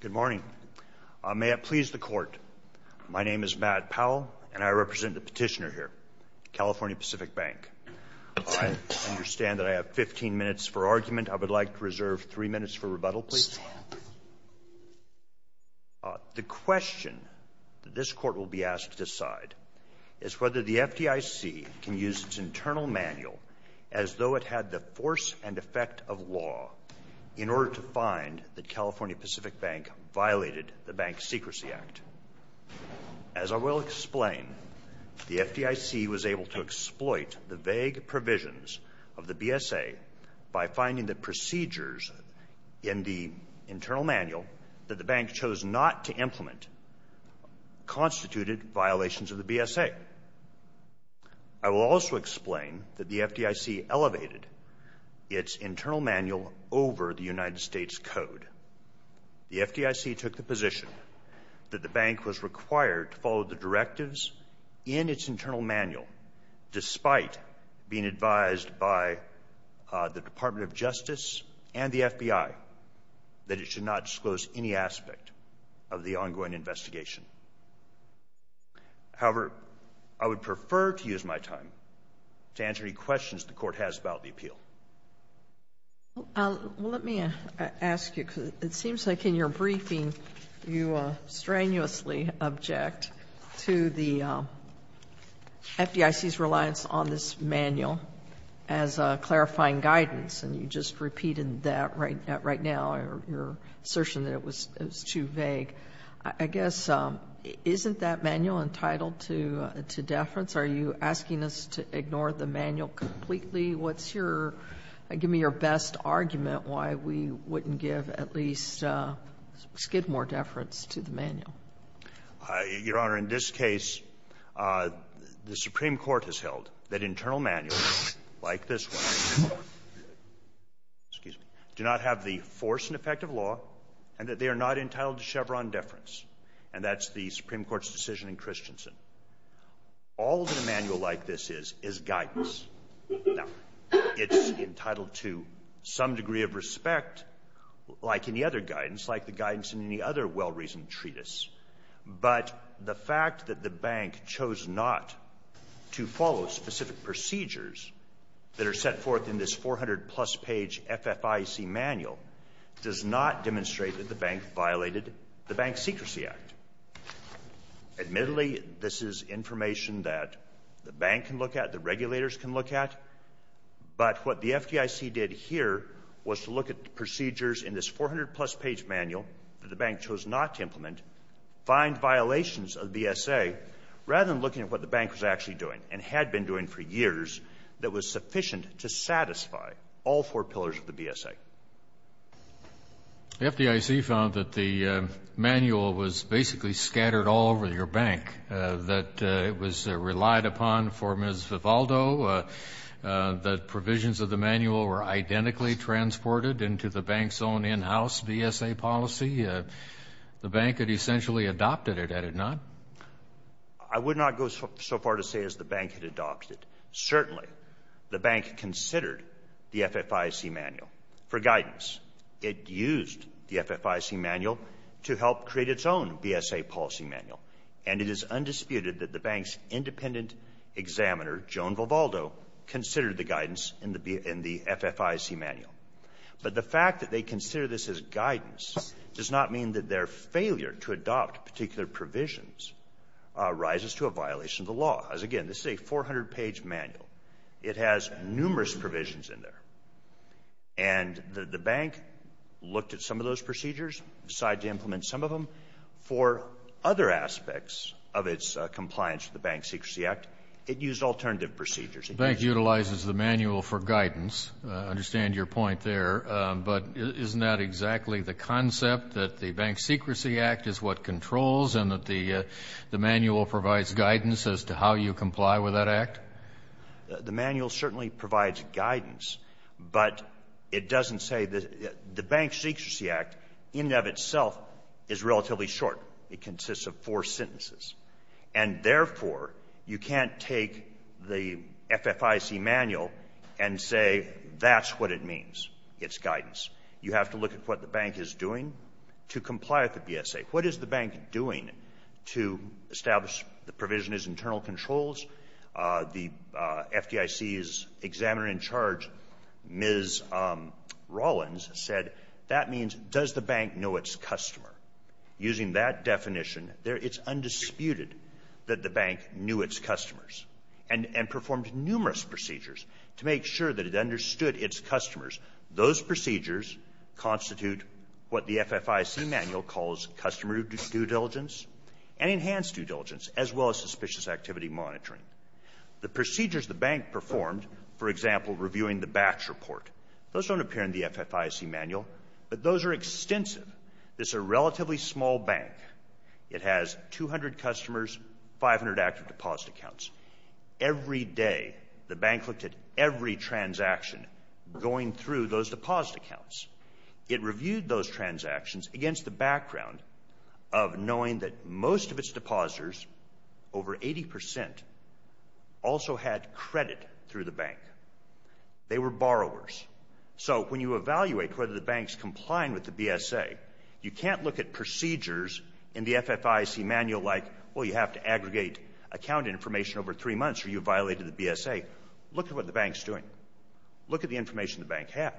Good morning. May it please the court, my name is Matt Powell and I represent the petitioner here, California Pacific Bank. I understand that I have 15 minutes for argument. I would like to reserve three minutes for rebuttal please. The question this court will be asked to decide is whether the FDIC can use its internal manual as though it had the force and effect of law in order to find that California Pacific Bank violated the Bank Secrecy Act. As I will explain, the FDIC was able to exploit the vague provisions of the BSA by finding the procedures in the internal manual that the bank chose not to implement constituted violations of the BSA. I will also explain that the FDIC elevated its internal manual over the United States Code. The FDIC took the position that the bank was required to follow the directives in its internal manual despite being advised by the Department of Justice and the FBI that it should not disclose any aspect of the ongoing investigation. However, I would prefer to use my time to answer any Sotomayor, let me ask you, because it seems like in your briefing you strenuously object to the FDIC's reliance on this manual as clarifying guidance, and you just repeated that right now, your assertion that it was too vague. I guess, isn't that manual entitled to deference? Are you asking us to ignore the manual completely? What's your — give me your best argument why we wouldn't give at least skid more deference to the manual. Your Honor, in this case, the Supreme Court has held that internal manuals like this one, excuse me, do not have the force and effect of law, and that they are not entitled to Chevron deference, and that's the Supreme Court's decision in Christensen. All that a manual like this is, is guidance. Now, it's entitled to some degree of respect, like any other guidance, like the guidance in any other well-reasoned treatise, but the fact that the bank chose not to follow specific procedures that are set forth in this 400-plus page FFIC manual does not demonstrate that the this is information that the bank can look at, the regulators can look at, but what the FDIC did here was to look at procedures in this 400-plus page manual that the bank chose not to implement, find violations of the BSA, rather than looking at what the bank was actually doing and had been doing for years that was sufficient to satisfy all four pillars of the BSA. The FDIC found that the manual was basically scattered all over your bank, that it was relied upon for Ms. Vivaldo, that provisions of the manual were identically transported into the bank's own in-house BSA policy. The bank had essentially adopted it, had it not? I would not go so far to say as the bank had adopted. Certainly, the bank considered the FFIC manual for guidance. It used the FFIC manual to help create its own BSA policy manual, and it is undisputed that the bank's independent examiner, Joan Vivaldo, considered the guidance in the FFIC manual. But the fact that they consider this as guidance does not mean that their failure to adopt particular provisions rises to a violation of the law. As again, this is a 400-page manual. It has numerous provisions in there. And the bank looked at some of those procedures, decided to implement some of them. For other aspects of its compliance with the Bank Secrecy Act, it used alternative procedures. The bank utilizes the manual for guidance. I understand your point there. But isn't that exactly the concept, that the Bank Secrecy Act is what controls and that the manual provides guidance as to how you comply with that act? The manual certainly provides guidance, but it doesn't say that the Bank Secrecy Act, in and of itself, is relatively short. It consists of four sentences. And therefore, you can't take the FFIC manual and say, that's what it means, its guidance. You have to look at what the bank is doing to comply with the BSA. What is the bank doing to establish the provision as internal controls? The FDIC's examiner in charge, Ms. Rollins, said that means, does the bank know its customer? Using that definition, it's undisputed that the bank knew its customers, and performed numerous procedures to make sure that it understood its customers. Those procedures constitute what the FFIC manual calls customer due diligence and enhanced due diligence, as well as suspicious activity monitoring. The procedures the bank performed, for example, reviewing the batch report, those don't appear in the FFIC manual, but those are extensive. It's a relatively small bank. It has 200 customers, 500 active deposit accounts. Every day, the bank looked at every transaction going through those deposit accounts. It reviewed those transactions against the background of knowing that most of its depositors, over 80 percent, also had credit through the bank. They were borrowers. So when you evaluate whether the bank's complying with the BSA, you can't look at procedures in the FFIC manual like, well, you have to wait over three months or you violated the BSA. Look at what the bank's doing. Look at the information the bank had.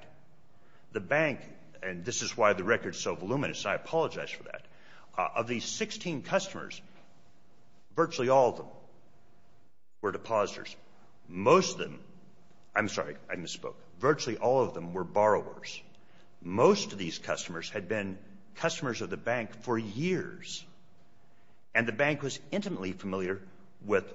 The bank, and this is why the record's so voluminous, I apologize for that, of these 16 customers, virtually all of them were depositors. Most of them, I'm sorry, I misspoke, virtually all of them were borrowers. Most of these customers had been customers of the bank for years, and the bank was intimately familiar with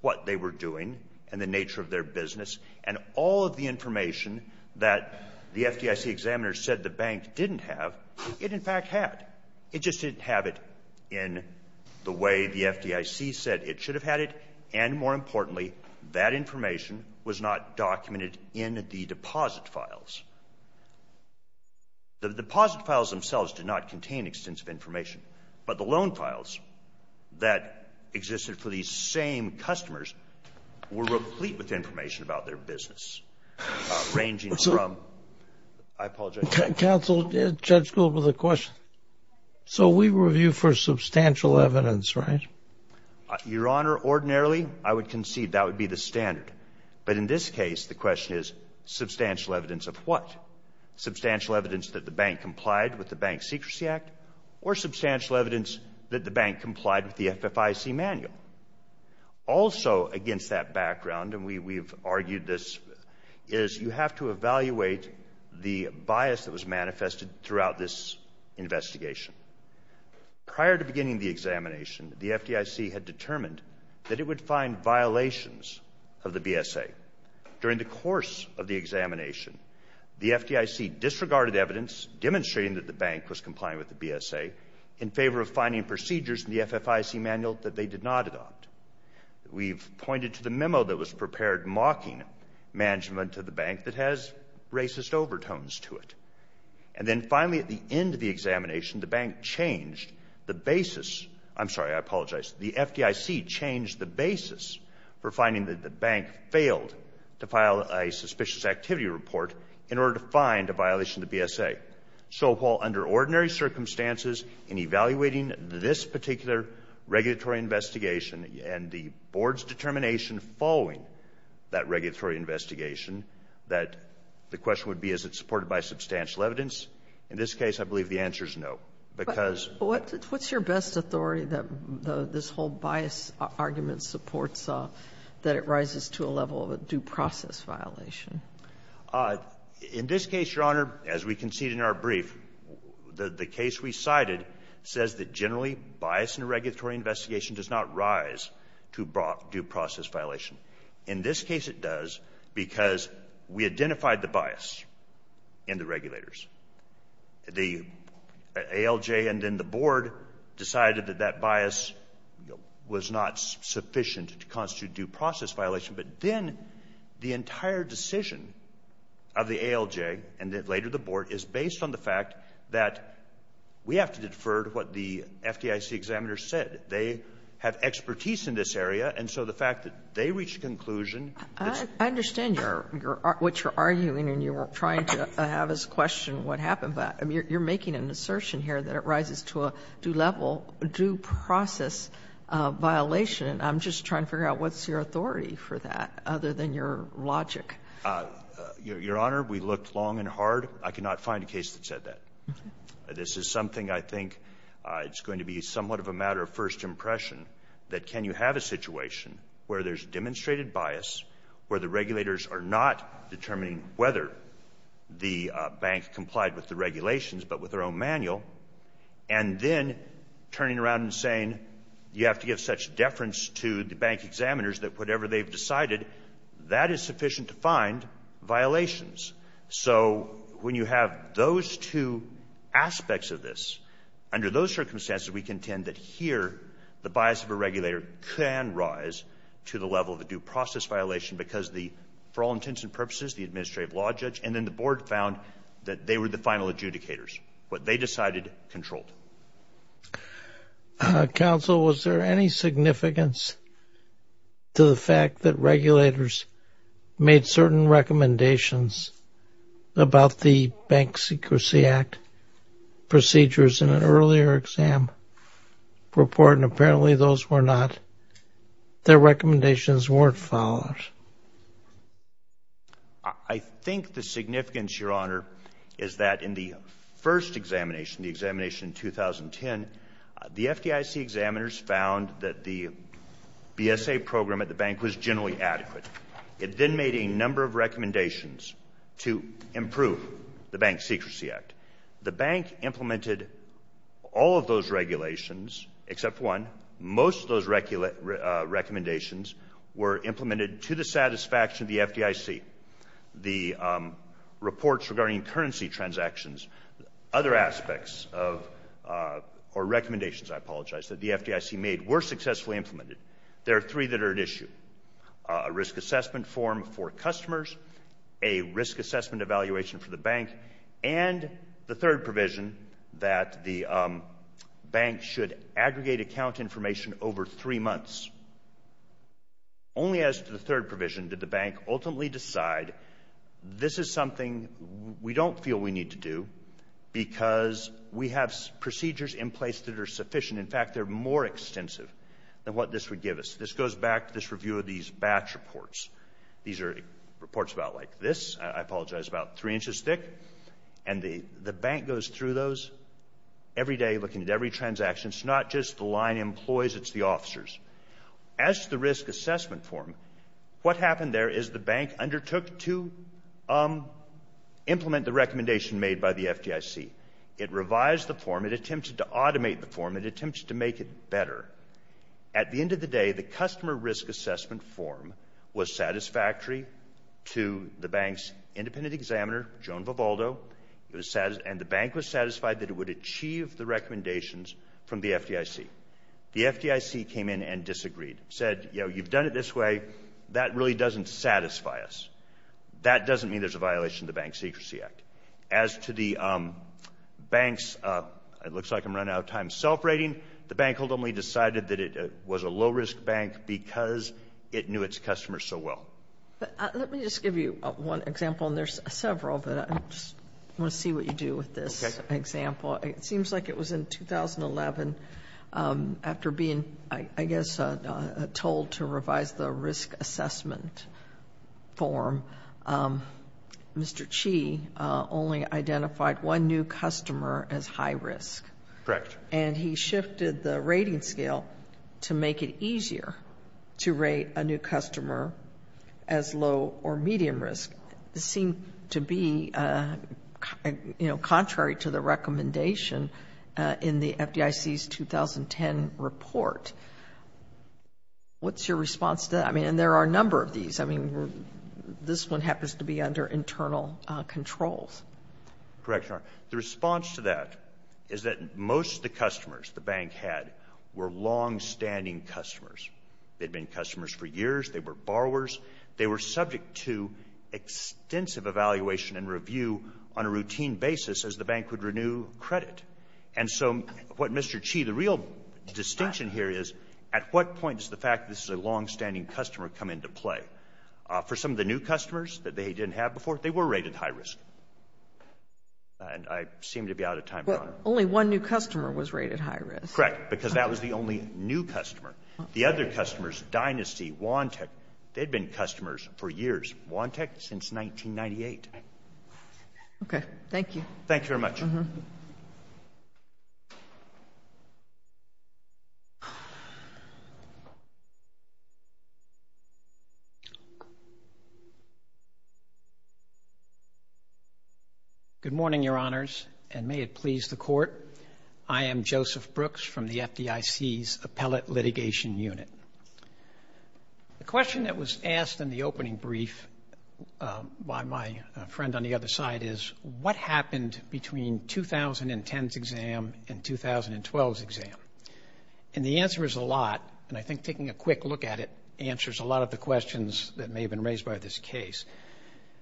what they were doing and the nature of their business, and all of the information that the FDIC examiners said the bank didn't have, it in fact had. It just didn't have it in the way the FDIC said it should have had it, and more importantly, that information was not documented in the deposit files. The deposit files themselves did not contain extensive information, but the records that existed for these same customers were replete with information about their business, ranging from, I apologize. Counsel, Judge Gould with a question. So we review for substantial evidence, right? Your Honor, ordinarily, I would concede that would be the standard, but in this case, the question is substantial evidence of what? Substantial evidence that the bank was complying with the FFIC manual. Also against that background, and we've argued this, is you have to evaluate the bias that was manifested throughout this investigation. Prior to beginning the examination, the FDIC had determined that it would find violations of the BSA. During the course of the examination, the FDIC disregarded evidence demonstrating that the bank was complying with the BSA in favor of finding procedures in the FFIC manual that they did not adopt. We've pointed to the memo that was prepared mocking management to the bank that has racist overtones to it. And then finally, at the end of the examination, the bank changed the basis — I'm sorry, I apologize. The FDIC changed the basis for finding that the bank failed to file a suspicious activity report in order to find a violation of the BSA. So while under ordinary circumstances, in evaluating this particular regulatory investigation and the board's determination following that regulatory investigation, that the question would be, is it supported by substantial evidence? In this case, I believe the answer is no, because — Sotomayor, what's your best authority that this whole bias argument supports, that it rises to a level of a due process violation? In this case, Your Honor, as we concede in our brief, the case we cited says that generally bias in a regulatory investigation does not rise to due process violation. In this case it does because we identified the bias in the regulators. The ALJ and then the board decided that that bias was not sufficient to constitute due process violation, but then the entire decision of the ALJ and then later the board is based on the fact that we have to defer to what the FDIC examiners said. They have expertise in this area, and so the fact that they reached a conclusion that's — I understand your — what you're arguing and you're trying to have us question what happened. You're making an assertion here that it rises to a due level, due process violation. And I'm just trying to figure out what's your authority for that, other than your logic. Your Honor, we looked long and hard. I could not find a case that said that. This is something I think it's going to be somewhat of a matter of first impression, that can you have a situation where there's demonstrated bias, where the regulators are not determining whether the bank complied with the regulations but with their own manual, and then turning around and saying you have to give such deference to the bank examiners that whatever they've decided, that is sufficient to find violations. So when you have those two aspects of this, under those circumstances, we contend that here the bias of a regulator can rise to the level of a due process violation because the — for all intents and purposes, the administrative law judge and then the board found that they were the final adjudicators. What they decided, controlled. Counsel, was there any significance to the fact that regulators made certain recommendations about the Bank Secrecy Act procedures in an earlier exam report, and apparently those were not — their recommendations weren't followed? I think the significance, Your Honor, is that in the first examination, the examination in 2010, the FDIC examiners found that the BSA program at the bank was generally adequate. It then made a number of recommendations to improve the Bank Secrecy Act. The bank implemented all of those regulations, except one. Most of those recommendations were implemented to the satisfaction of the FDIC. The reports regarding currency transactions, other aspects of — or recommendations, I apologize, that the FDIC made were successfully implemented. There are three that are at issue. A risk assessment form for customers, a risk assessment evaluation for the bank, and the third provision that the bank should aggregate account information over three months. Only as to the third provision did the bank ultimately decide, this is something we don't feel we need to do because we have procedures in place that are sufficient. In fact, they're more extensive than what this would give us. This goes back to this review of these batch reports. These are reports about like this. I apologize, about three inches thick. And the bank goes through those every day, looking at every transaction. It's not just the line employees, it's the officers. As to the risk assessment form, what happened there is the bank undertook to implement the recommendation made by the FDIC. It revised the form. It attempted to automate the form. It attempted to make it better. At the end of the day, the customer risk assessment form was satisfactory to the bank's independent examiner, Joan Vivaldo, and the bank was satisfied that it would achieve the recommendations from the FDIC. The FDIC came in and disagreed, said, you know, you've done it this way. That really doesn't satisfy us. That doesn't mean there's a violation of the Bank Secrecy Act. As to the bank's, it looks like I'm running out of time, self-rating, the bank ultimately decided that it was a low-risk bank because it knew its customers so well. Let me just give you one example, and there's several, but I just want to see what you do with this example. It seems like it was in 2011, after being, I guess, told to revise the risk assessment form, Mr. Chi only identified one new customer as high risk. Correct. And he shifted the rating scale to make it easier to rate a new customer as low or medium risk. This seemed to be, you know, contrary to the recommendation in the FDIC's 2010 report. What's your response to that? I mean, and there are a number of these. I mean, this one happens to be under internal controls. Correct, Your Honor. The response to that is that most of the customers the bank had were longstanding customers. They'd been customers for years. They were borrowers. They were subject to extensive evaluation and review on a routine basis as the bank would renew credit. And so what Mr. Chi, the real distinction here is at what point does the fact this is a longstanding customer come into play? For some of the new customers that they didn't have before, they were rated high risk. And I seem to be out of time, Your Honor. Well, only one new customer was rated high risk. Correct, because that was the only new customer. The other customers, Dynasty, Wantech, they'd been customers for years. Wantech, since 1998. Okay. Thank you. Thank you very much. Mm-hmm. Good morning, Your Honors, and may it please the Court. I am Joseph Brooks from the FDIC's Appellate Litigation Unit. The question that was asked in the opening brief by my friend on the other side is, what happened between 2010's exam and 2012's exam? And the answer is a lot, and I think taking a quick look at it answers a lot of the questions that may have been raised by this case.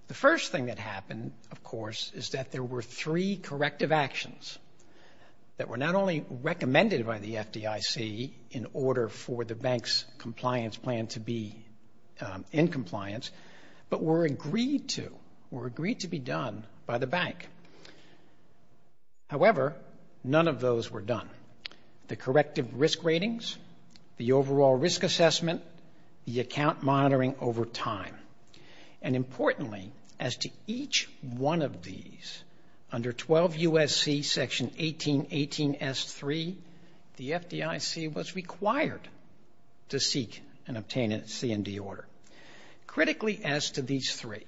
The first thing that happened, of course, is that there were three corrective actions that were not only recommended by the FDIC in order for the bank's compliance plan to be in compliance, but were agreed to, were agreed to be done by the bank. However, none of those were done. The corrective risk ratings, the overall risk assessment, the account monitoring over time, and importantly, as to each one of these, under 12 U.S.C. Section 1818 S.3, the FDIC was required to seek and obtain a C&D order. Critically, as to these three,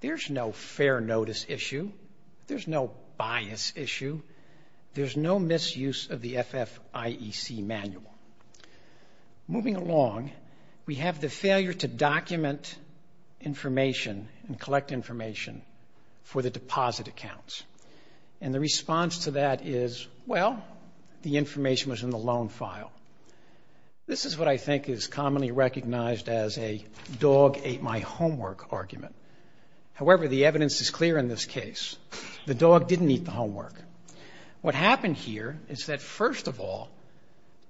there's no fair notice issue. There's no bias issue. There's no misuse of the FFIEC manual. Moving along, we have the failure to document information and collect information for the deposit accounts. And the response to that is, well, the information was in the loan file. This is what I think is commonly recognized as a dog ate my homework argument. However, the evidence is clear in this case. The dog didn't eat the homework. What happened here is that, first of all,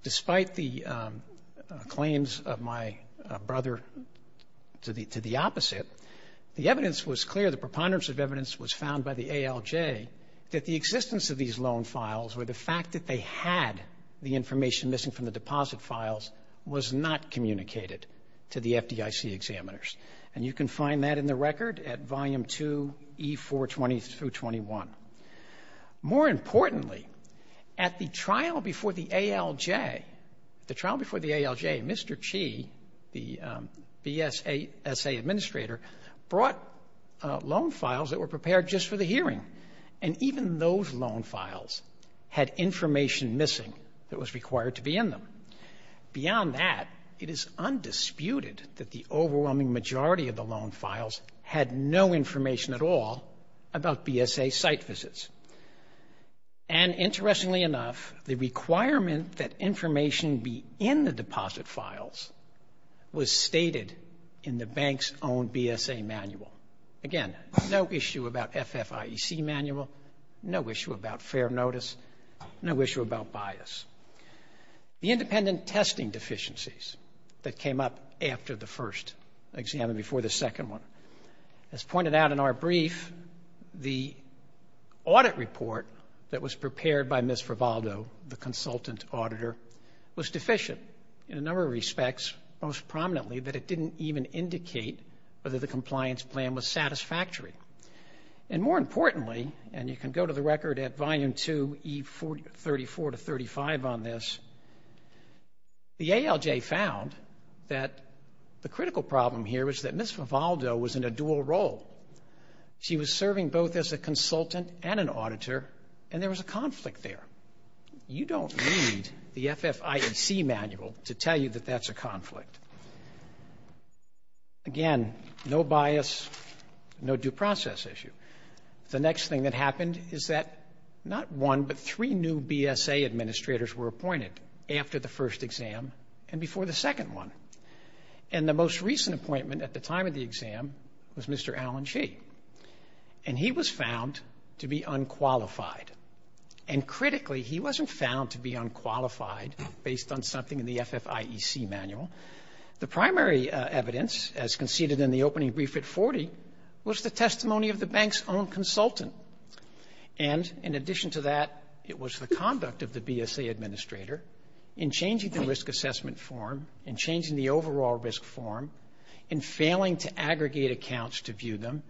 despite the claims of my brother to the opposite, the evidence was clear, the preponderance of evidence was found by the ALJ, that the existence of these loan files, or the fact that they had the information missing from the deposit files, was not communicated to the FDIC examiners. And you can find that in the record at Volume 2, E420-21. More importantly, at the trial before the ALJ, the trial before the ALJ, Mr. Chee, the BSA administrator, brought loan files that were prepared just for the hearing. And even those loan files had information missing that was required to be in them. Beyond that, it is undisputed that the overwhelming majority of the loan files had no information at all about BSA site visits. And interestingly enough, the requirement that information be in the deposit files was stated in the bank's own BSA manual. Again, no issue about FFIEC manual, no issue about fair notice, no issue about bias. The independent testing deficiencies that came up after the first exam and before the second one. As pointed out in our brief, the audit report that was prepared by Ms. Frivaldo, the consultant auditor, was deficient in a number of respects, most prominently that it didn't even indicate whether the compliance plan was satisfactory. And more importantly, and you can go to the record at Volume 2, E34-35 on this, the ALJ found that the critical problem here was that Ms. Frivaldo was in a dual role. She was serving both as a consultant and an auditor, and there was a conflict there. You don't need the FFIEC manual to tell you that that's a conflict. Again, no bias, no due process issue. The next thing that happened is that not one, but three new BSA administrators were appointed after the first exam and before the second one. And the most recent appointment at the time of the exam was Mr. Alan Shee. And he was found to be unqualified. And critically, he wasn't found to be unqualified based on something in the FFIEC manual. The primary evidence, as conceded in the opening brief at 40, was the testimony of the bank's own consultant. And in addition to that, it was the conduct of the BSA administrator in changing the risk assessment form, in changing the overall risk form, in failing to aggregate accounts to view them,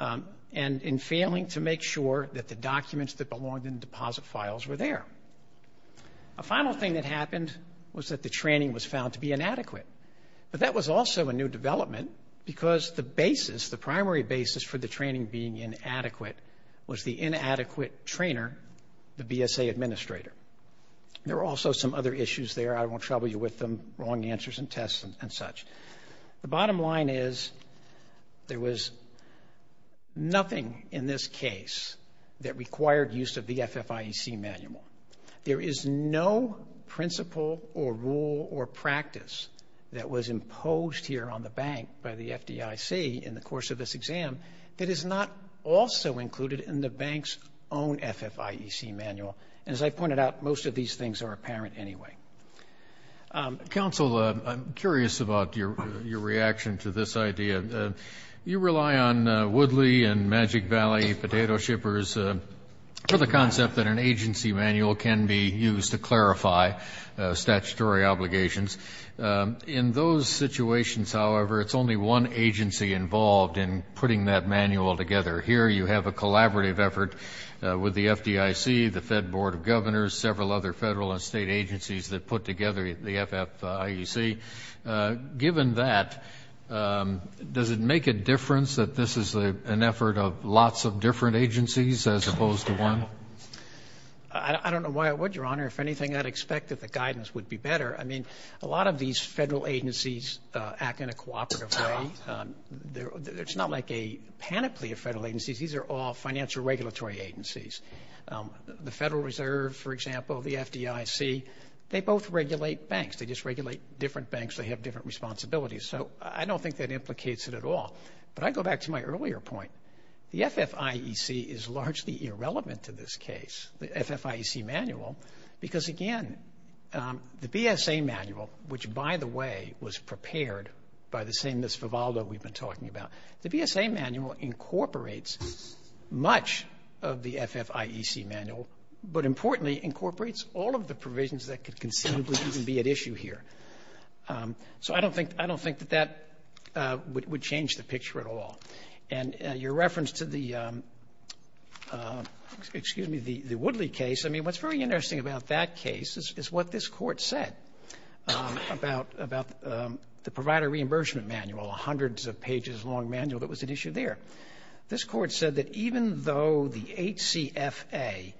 and in failing to make sure that the documents that belonged in the deposit files were there. A final thing that happened was that the training was found to be inadequate. But that was also a new development because the basis, the primary basis, for the training being inadequate was the inadequate trainer, the BSA administrator. There were also some other issues there. I won't trouble you with them. Wrong answers and tests and such. The bottom line is, there was nothing in this case that required use of the FFIEC manual. There is no principle or rule or practice that was imposed here on the bank by the FDIC in the course of this exam that is not also included in the bank's own FFIEC manual. And as I pointed out, most of these things are apparent anyway. Counsel, I'm curious about your reaction to this idea. You rely on Woodley and Magic Valley potato shippers for the concept that an agency manual can be used to clarify statutory obligations. In those situations, however, it's only one agency involved in putting that manual together. Here you have a collaborative effort with the FDIC, the Fed Board of Governors, several other federal and state agencies that put together the FFIEC. Given that, does it make a difference that this is an effort of lots of different agencies as opposed to one? I don't know why it would, Your Honor. If anything, I'd expect that the guidance would be better. I mean, a lot of these federal agencies act in a cooperative way. It's not like a panoply of federal agencies. These are all financial regulatory agencies. The Federal Reserve, for example, the FDIC, they both regulate banks. They just regulate different banks. They have different responsibilities. So I don't think that implicates it at all. But I go back to my earlier point. The FFIEC is largely irrelevant to this case, the FFIEC manual, because, again, the BSA manual, which, by the way, was prepared by the same Ms. Vivaldo we've been talking about, the BSA manual incorporates much of the FFIEC manual, but importantly incorporates all of the provisions that could conceivably even be at issue here. So I don't think that that would change the picture at all. And your reference to the, excuse me, the Woodley case, I mean, what's very interesting about that case is what this Court said about the Provider Reimbursement Manual, a hundreds of pages long manual that was at issue there. This Court said that even though the HCFA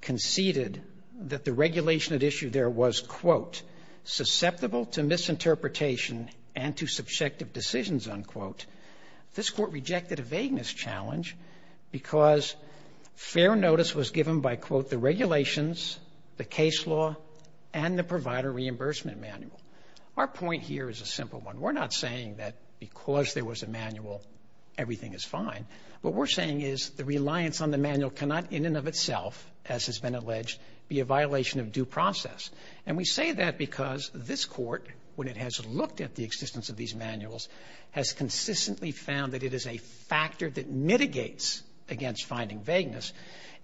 conceded that the regulation at issue there was, quote, susceptible to misinterpretation and to subjective decisions, unquote, this Court rejected a vagueness challenge because fair notice was given by, quote, the regulations, the case law, and the Provider Reimbursement Manual. Our point here is a simple one. We're not saying that because there was a manual, everything is fine. What we're saying is the reliance on the manual cannot in and of itself, as has been alleged, be a violation of due process. And we say that because this Court, when it has looked at the existence of these manuals, has consistently found that it is a factor that mitigates against finding vagueness.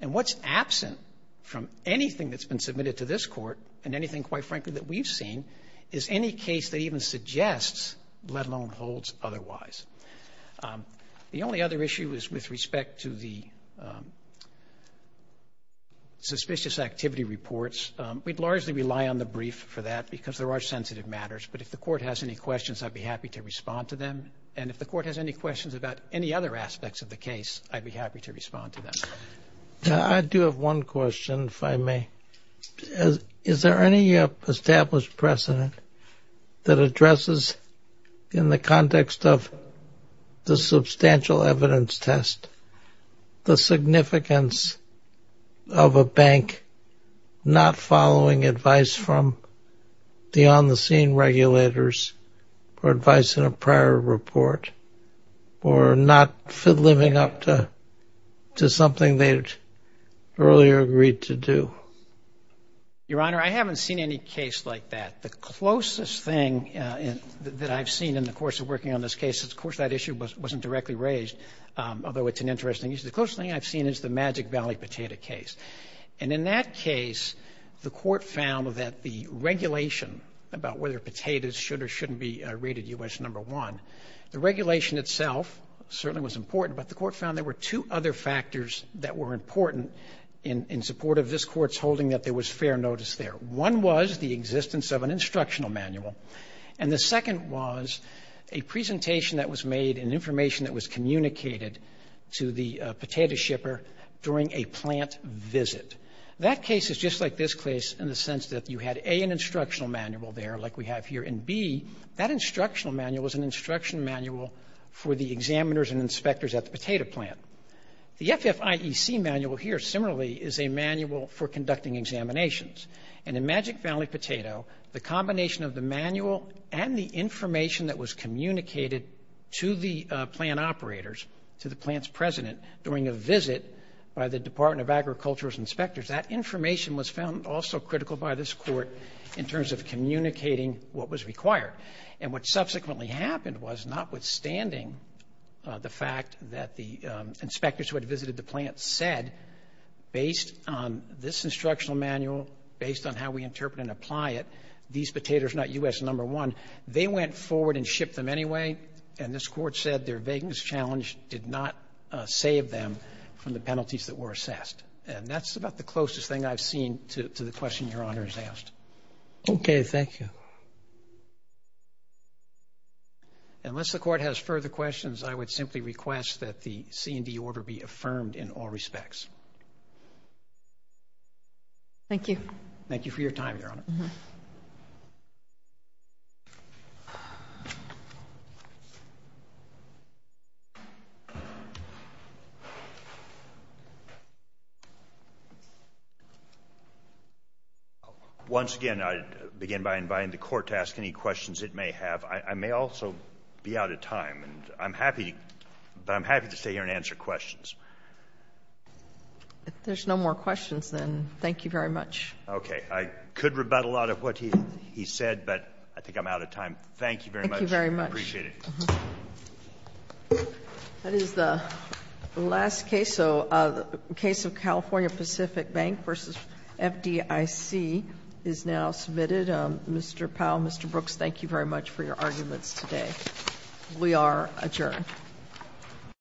And what's absent from anything that's been submitted to this Court and anything, quite frankly, that we've seen is any case that even suggests, let alone holds, otherwise. The only other issue is with respect to the suspicious activity reports. We'd largely rely on the brief for that because there are sensitive matters, but if the Court has any questions, I'd be happy to respond to them. And if the Court has any questions about any other aspects of the case, I'd be happy to respond to them. I do have one question, if I may. Is there any established precedent that addresses, in the context of the substantial evidence test, the significance of a bank not following advice from the on-the-scene regulators for advice in a prior report or not living up to something they'd earlier agreed to do? Your Honor, I haven't seen any case like that. The closest thing that I've seen in the course of working on this case, of course, that issue wasn't directly raised, although it's an interesting issue. The closest thing I've seen is the Magic Valley Potato case. And in that case, the Court found that the regulation about whether potatoes should or shouldn't be rated U.S. No. 1, the regulation itself certainly was important, but the Court found there were two other factors that were important in support of this Court's holding that there was fair notice there. One was the existence of an instructional manual, and the second was a presentation that was made, an information that was communicated to the potato shipper during a plant visit. That case is just like this case in the sense that you had, A, an instructional manual there like we have here, and, B, that instructional manual was an instruction manual for the examiners and inspectors at the potato plant. The FFIEC manual here similarly is a manual for conducting examinations. And in Magic Valley Potato, the combination of the manual and the information that was communicated to the plant operators, to the plant's president during a visit by the Department of Agriculture's inspectors, that information was found also critical by this Court in terms of communicating what was required. And what subsequently happened was, notwithstanding the fact that the inspectors who had visited the plant said, based on this instructional manual, based on how we interpret and apply it, these potatoes are not U.S. No. 1, they went forward and shipped them anyway, and this Court said their vagueness challenge did not save them from the penalties that were assessed. And that's about the closest thing I've seen to the question Your Honor has asked. Okay. Thank you. Unless the Court has further questions, I would simply request that the C&D order be affirmed in all respects. Thank you. Thank you for your time, Your Honor. Thank you, Your Honor. Once again, I begin by inviting the Court to ask any questions it may have. I may also be out of time, but I'm happy to stay here and answer questions. If there's no more questions, then thank you very much. Okay. I could rebut a lot of what he said, but I think I'm out of time. Thank you very much. Thank you very much. I appreciate it. That is the last case. So the case of California Pacific Bank v. FDIC is now submitted. Mr. Powell, Mr. Brooks, thank you very much for your arguments today. We are adjourned.